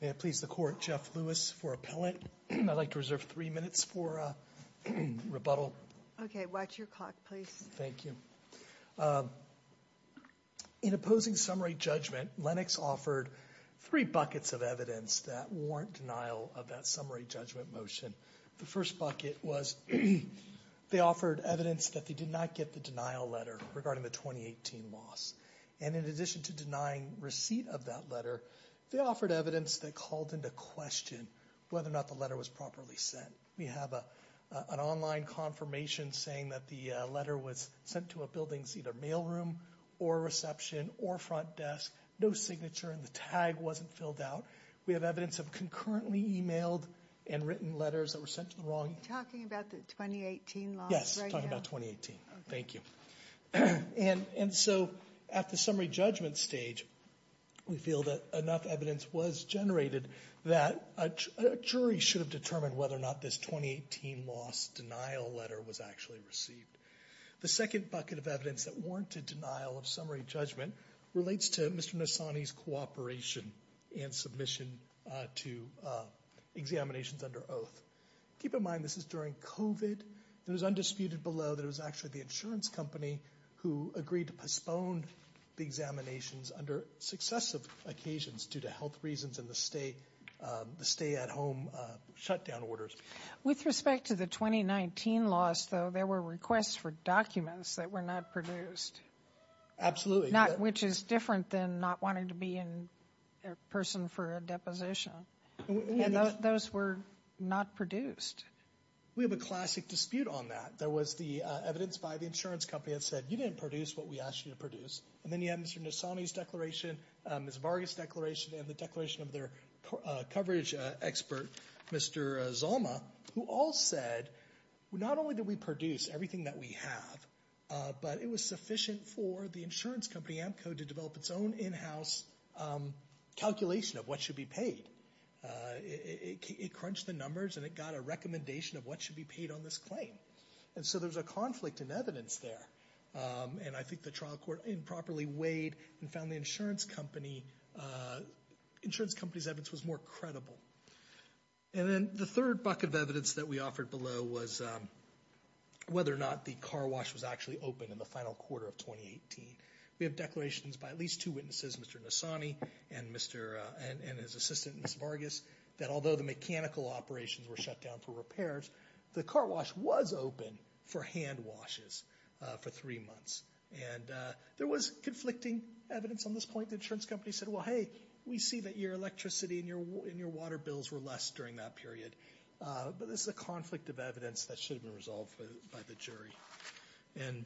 May I please the Court, Jeff Lewis for appellate. I'd like to reserve three minutes for rebuttal. Okay, watch your clock, please. Thank you. In opposing summary judgment, Lennox offered three buckets of evidence that warrant denial of that summary judgment motion. The first offered evidence that they did not get the denial letter regarding the 2018 loss. And in addition to denying receipt of that letter, they offered evidence that called into question whether or not the letter was properly sent. We have an online confirmation saying that the letter was sent to a building's either mailroom or reception or front desk, no signature and the tag wasn't filled out. We have evidence of concurrently emailed and written letters that were sent to the wrong... Are you talking about the 2018 loss? Yes, talking about 2018. Thank you. And so at the summary judgment stage, we feel that enough evidence was generated that a jury should have determined whether or not this 2018 loss denial letter was actually received. The second bucket of evidence that warranted denial of summary judgment relates to Mr. Nassani's cooperation and submission to examinations under oath. Keep in mind, this is during COVID. It was undisputed below that it was actually the insurance company who agreed to postpone the examinations under successive occasions due to health reasons and the stay at home shutdown orders. With respect to the 2019 loss, though, there were requests for documents that were not produced. Absolutely. Which is different than not wanting to be in person for a deposition. And those were not produced. We have a classic dispute on that. There was the evidence by the insurance company that said you didn't produce what we asked you to produce. And then you have Mr. Nassani's declaration, Ms. Vargas' declaration and the declaration of their coverage expert, Mr. Zalma, who all said not only did we produce everything that we have, but it was sufficient for the insurance company, Amco, to develop its own in-house calculation of what should be paid. It crunched the numbers and it got a recommendation of what should be paid on this claim. And so there was a conflict in evidence there. And I think the trial court improperly weighed and found the insurance company's evidence was more credible. And then the third bucket of evidence that we have is whether or not the car wash was actually open in the final quarter of 2018. We have declarations by at least two witnesses, Mr. Nassani and his assistant, Ms. Vargas, that although the mechanical operations were shut down for repairs, the car wash was open for hand washes for three months. And there was conflicting evidence on this point. The insurance company said, well, hey, we see that your electricity and your water bills were less during that period. But this is a conflict of evidence that should have been resolved by the jury. And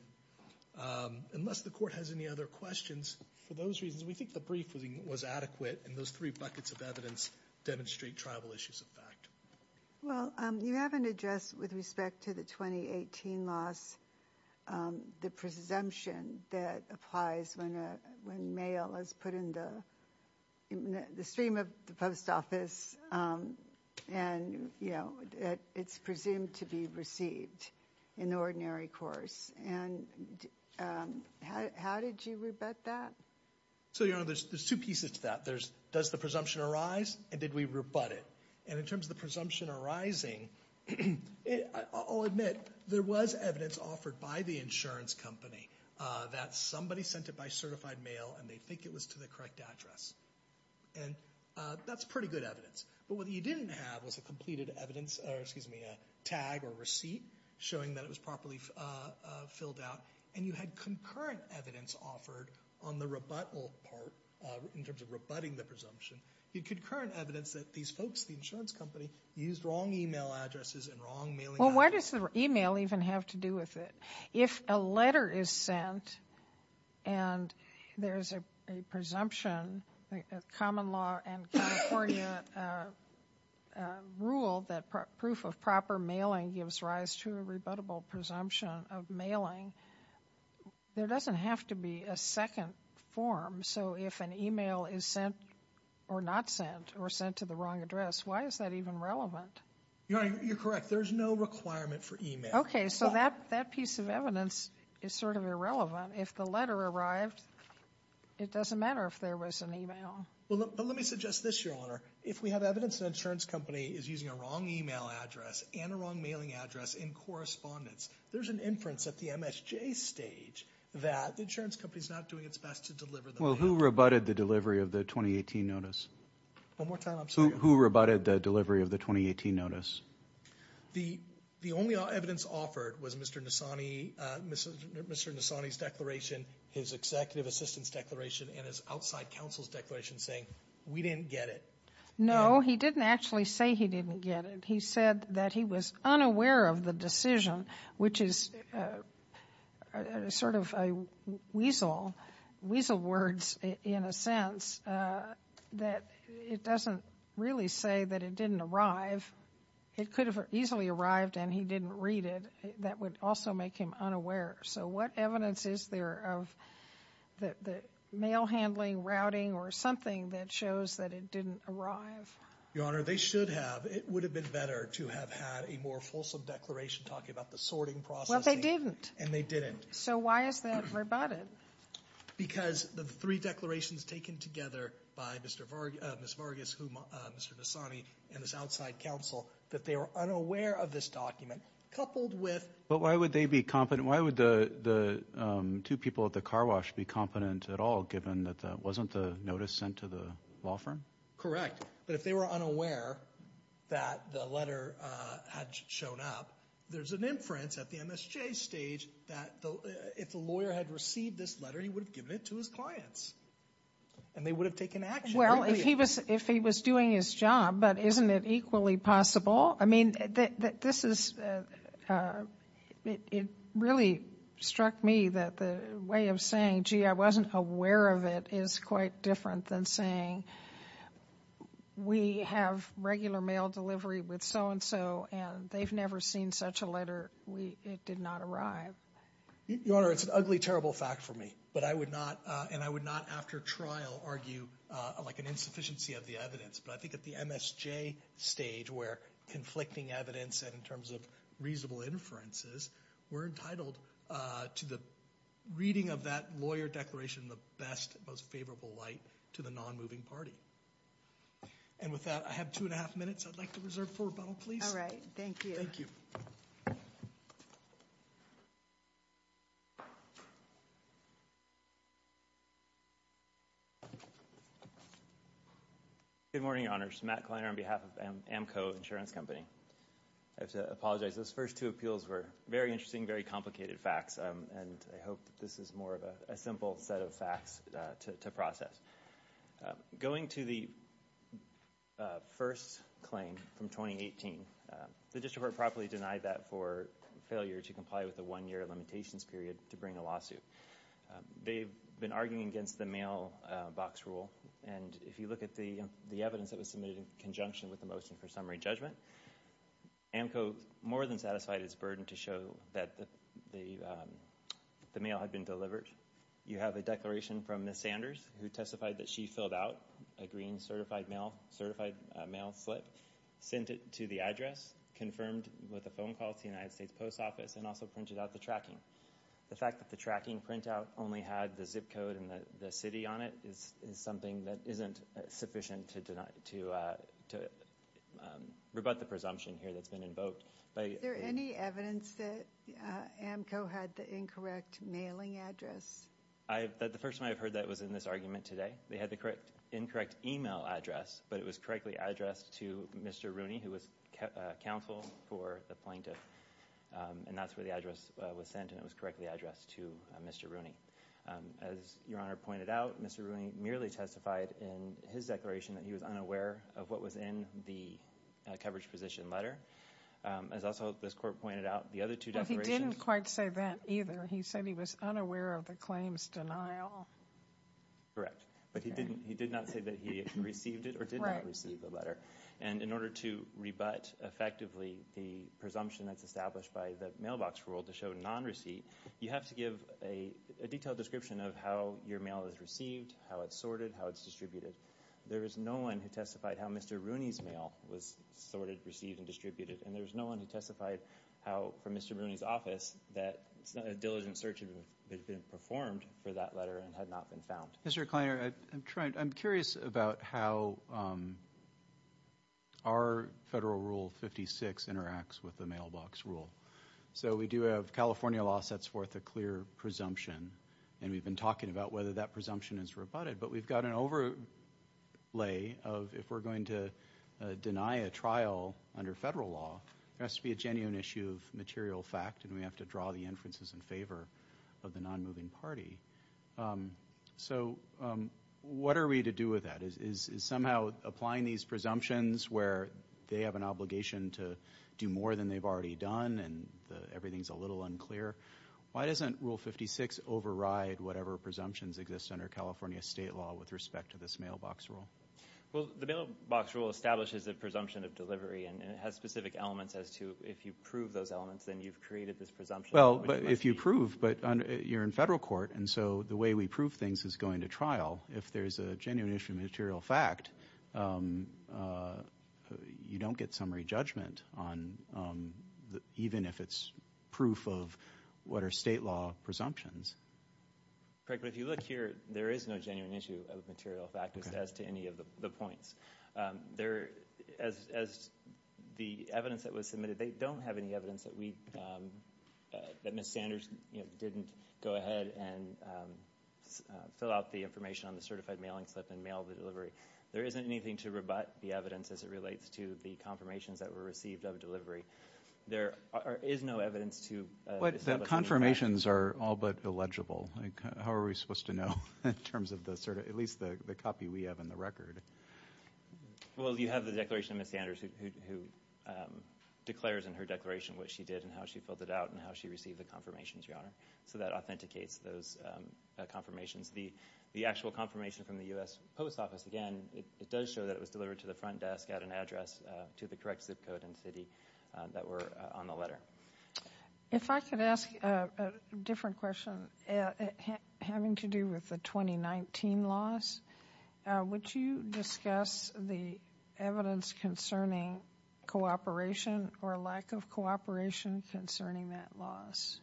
unless the court has any other questions, for those reasons, we think the brief was adequate. And those three buckets of evidence demonstrate tribal issues of fact. Well, you haven't addressed, with respect to the 2018 loss, the presumption that applies when mail is put in the stream of the post office and, you know, it's presumed to be received in the ordinary course. And how did you rebut that? So, Your Honor, there's two pieces to that. There's does the presumption arise and did we rebut it? And in terms of the presumption arising, I'll admit there was evidence offered by the insurance company that somebody sent it by certified mail and they think it was to the correct address. And that's pretty good evidence. But what you didn't have was a completed evidence or, excuse me, a tag or receipt showing that it was properly filled out. And you had concurrent evidence offered on the rebuttal part in terms of rebutting the presumption. You had concurrent evidence that these folks, the insurance company, used wrong email addresses and wrong mailing addresses. Well, why does the email even have to do with it? If a letter is sent and there's a presumption, the common law and California rule that proof of proper mailing gives rise to a rebuttable presumption of mailing, there doesn't have to be a second form. So if an email is sent or not sent or sent to the wrong address, why is that even relevant? Your Honor, you're correct. There's no requirement for email. Okay, so that piece of evidence is sort of irrelevant. If the letter arrived, it doesn't matter if there was an email. But let me suggest this, Your Honor. If we have evidence that an insurance company is using a wrong email address and a wrong mailing address in correspondence, there's an inference at the MSJ stage that the insurance company is not doing its best to deliver the mail. Well, who rebutted the delivery of the 2018 notice? One more time, I'm sorry. Who rebutted the delivery of the 2018 notice? The only evidence offered was Mr. Nassani's declaration, his executive assistant's declaration, and his outside counsel's declaration saying, we didn't get it. No, he didn't actually say he didn't get it. He said that he was unaware of the decision, which is sort of a weasel, weasel words in a sense, that it doesn't really say that it didn't arrive. It could have easily arrived and he didn't read it. That would also make him unaware. So what evidence is there of the mail handling, routing, or something that shows that it didn't arrive? Your Honor, they should have. It would have been better to have had a more fulsome declaration talking about the sorting process. Well, they didn't. And they didn't. So why is that rebutted? Because the three declarations taken together by Ms. Vargas, Mr. Nassani, and his outside counsel, that they were unaware of this document, coupled with... But why would they be confident? Why would the two people at the car wash be confident at all, given that that wasn't the notice sent to the law firm? Correct. But if they were unaware that the letter had shown up, there's an inference at the MSJ stage that if the lawyer had received this letter, he would have given it to his clients. And they would have taken action. Well, if he was doing his job, but isn't it equally possible? I mean, this is... It really struck me that the way of saying, gee, I wasn't aware of it, is quite different than saying, we have regular mail delivery with so-and-so, and they've never seen such a letter. It did not arrive. Your Honor, it's an ugly, terrible fact for me. But I would not, and I would not after trial, argue like an insufficiency of the evidence. But I think at the MSJ stage, where conflicting evidence and in terms of reasonable inferences, we're entitled to the reading of that lawyer declaration in the best, most favorable light to the non-moving party. And with that, I have two and a half minutes I'd like to reserve for rebuttal, please. All right. Thank you. Good morning, Your Honors. Matt Kleiner on behalf of Amco Insurance Company. I have to apologize. Those first two appeals were very interesting, very complicated facts, and I hope that this is more of a simple set of facts to process. Going to the first claim from 2018, the district court properly denied that for failure to comply with the one-year limitations period to bring a lawsuit. They've been arguing against the mailbox rule, and if you look at the evidence that was submitted in conjunction with the motion for summary judgment, Amco more than satisfied its burden to show that the mail had been delivered. You have a declaration from Ms. Sanders who testified that she filled out a green certified mail slip, sent it to the address, confirmed with a phone call to the United States Post Office, and also printed out the tracking. The fact that the tracking printout only had the zip code and the city on it is something that isn't sufficient to rebut the presumption here that's been invoked. Is there any evidence that Amco had the incorrect mailing address? The first time I've heard that was in this argument today. They had the incorrect email address, but it was correctly addressed to Mr. Rooney, who was counsel for the plaintiff, and that's where the address was sent, and it was correctly addressed to Mr. Rooney. As Your Honor pointed out, Mr. Rooney merely testified in his declaration that he was unaware of what was in the coverage position letter. As also this court pointed out, the other two declarations. Well, he didn't quite say that either. He said he was unaware of the claims denial. Correct, but he did not say that he received it or did not receive the letter. And in order to rebut effectively the presumption that's established by the mailbox rule to show non-receipt, you have to give a detailed description of how your mail is received, how it's sorted, how it's distributed. There is no one who testified how Mr. Rooney's mail was sorted, received, and distributed, and there's no one who testified how, from Mr. Rooney's office, that a diligent search had been performed for that letter and had not been found. Mr. Kleiner, I'm curious about how our Federal Rule 56 interacts with the mailbox rule. So we do have California law sets forth a clear presumption, and we've been talking about whether that presumption is rebutted, but we've got an overlay of if we're going to deny a trial under Federal law, there has to be a genuine issue of material fact, and we have to draw the inferences in favor of the non-moving party. So what are we to do with that? Is somehow applying these presumptions where they have an obligation to do more than they've already done and everything's a little unclear, why doesn't Rule 56 override whatever presumptions exist under California state law with respect to this mailbox rule? Well, the mailbox rule establishes a presumption of delivery, and it has specific elements as to if you prove those elements, then you've created this presumption. Well, if you prove, but you're in Federal court, and so the way we prove things is going to trial. If there's a genuine issue of material fact, you don't get summary judgment even if it's proof of what are state law presumptions. Correct, but if you look here, there is no genuine issue of material fact as to any of the points. As the evidence that was submitted, they don't have any evidence that we, that Ms. Sanders didn't go ahead and fill out the information on the certified mailing slip and mail the delivery. There isn't anything to rebut the evidence as it relates to the confirmations that were received of delivery. There is no evidence to establish that. But the confirmations are all but illegible. How are we supposed to know in terms of this, or at least the copy we have in the record? Well, you have the declaration of Ms. Sanders who declares in her declaration what she did and how she filled it out and how she received the confirmations, Your Honor. So that authenticates those confirmations. The actual confirmation from the U.S. Post Office, again, it does show that it was delivered to the front desk at an address to the correct zip code and city that were on the letter. If I could ask a different question having to do with the 2019 loss, would you discuss the evidence concerning cooperation or lack of cooperation concerning that loss?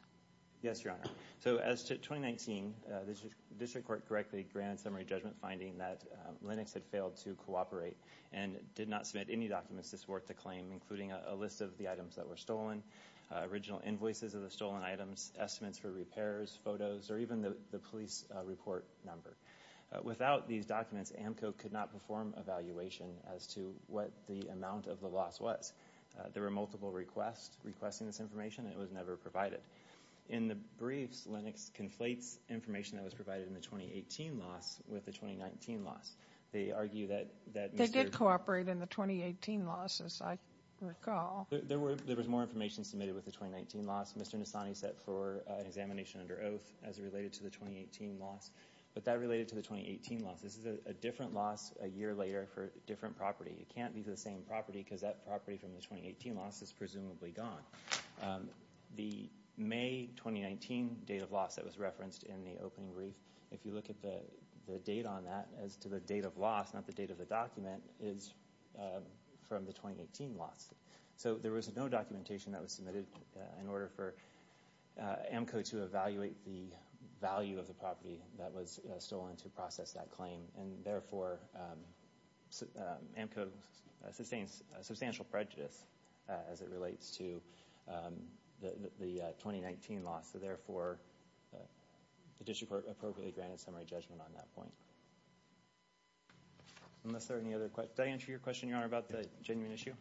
Yes, Your Honor. So as to 2019, the district court correctly granted summary judgment finding that Linux had failed to cooperate and did not submit any documents this worth to claim, including a list of the items that were stolen, original invoices of the stolen items, estimates for repairs, photos, or even the police report number. Without these documents, AMCO could not perform evaluation as to what the amount of the loss was. There were multiple requests requesting this information, and it was never provided. In the briefs, Linux conflates information that was provided in the 2018 loss with the 2019 loss. They argue that Mr. They did cooperate in the 2018 loss, as I recall. There was more information submitted with the 2019 loss. Mr. Nassani set for an examination under oath as related to the 2018 loss, but that related to the 2018 loss. This is a different loss a year later for a different property. It can't be the same property because that property from the 2018 loss is presumably gone. The May 2019 date of loss that was referenced in the opening brief, if you look at the date on that as to the date of loss, not the date of the document, is from the 2018 loss. So there was no documentation that was submitted in order for AMCO to evaluate the value of the property that was stolen to process that claim. And therefore, AMCO sustains substantial prejudice as it relates to the 2019 loss. So therefore, the district court appropriately granted summary judgment on that point. Unless there are any other questions. Did I answer your question, Your Honor, about the genuine issue?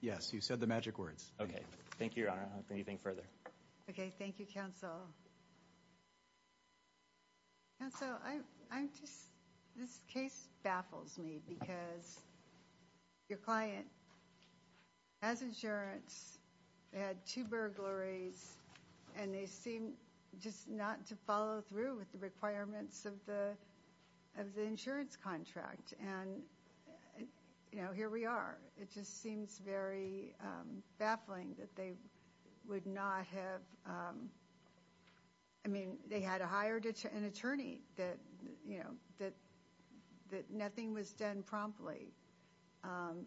Yes, you said the magic words. Okay, thank you, Your Honor. Anything further? Okay, thank you, Counsel. Counsel, this case baffles me because your client has insurance, had two burglaries, and they seem just not to follow through with the requirements of the insurance contract. And, you know, here we are. It just seems very baffling that they would not have, I mean, they had to hire an attorney that, you know, that nothing was done promptly.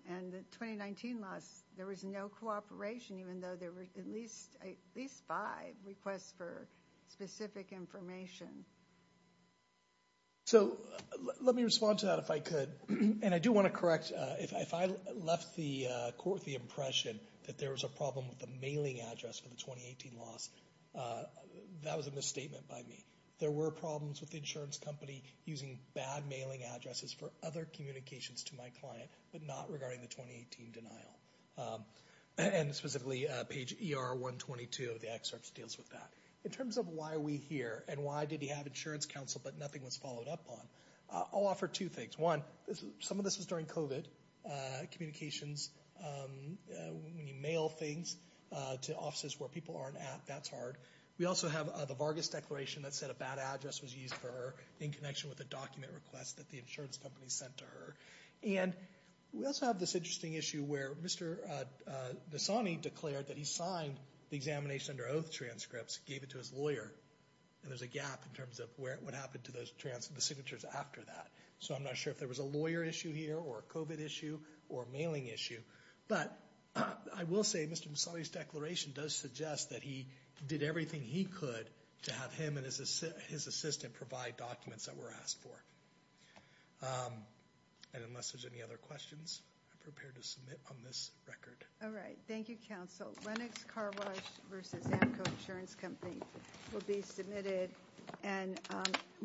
And the 2019 loss, there was no cooperation, even though there were at least five requests for specific information. So let me respond to that if I could. And I do want to correct, if I left the court with the impression that there was a problem with the mailing address for the 2018 loss, that was a misstatement by me. There were problems with the insurance company using bad mailing addresses for other communications to my client, but not regarding the 2018 denial. And specifically, page ER-122 of the excerpt deals with that. In terms of why are we here and why did he have insurance counsel but nothing was followed up on, I'll offer two things. One, some of this was during COVID communications. When you mail things to offices where people aren't at, that's hard. We also have the Vargas declaration that said a bad address was used for her in connection with a document request that the insurance company sent to her. And we also have this interesting issue where Mr. Misani declared that he signed the examination under oath transcripts, gave it to his lawyer. And there's a gap in terms of what happened to the signatures after that. So I'm not sure if there was a lawyer issue here or a COVID issue or a mailing issue. But I will say Mr. Misani's declaration does suggest that he did everything he could to have him and his assistant provide documents that were asked for. And unless there's any other questions, I'm prepared to submit on this record. All right. Thank you, counsel. Lennox Car Wash versus Amco Insurance Company will be submitted. And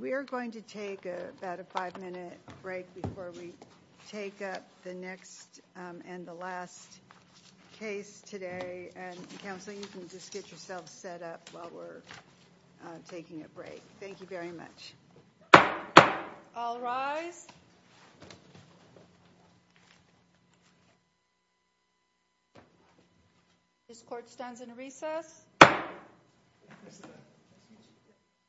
we are going to take about a five minute break before we take up the next and the last case today. And counsel, you can just get yourself set up while we're taking a break. Thank you very much. All rise. This court stands in recess.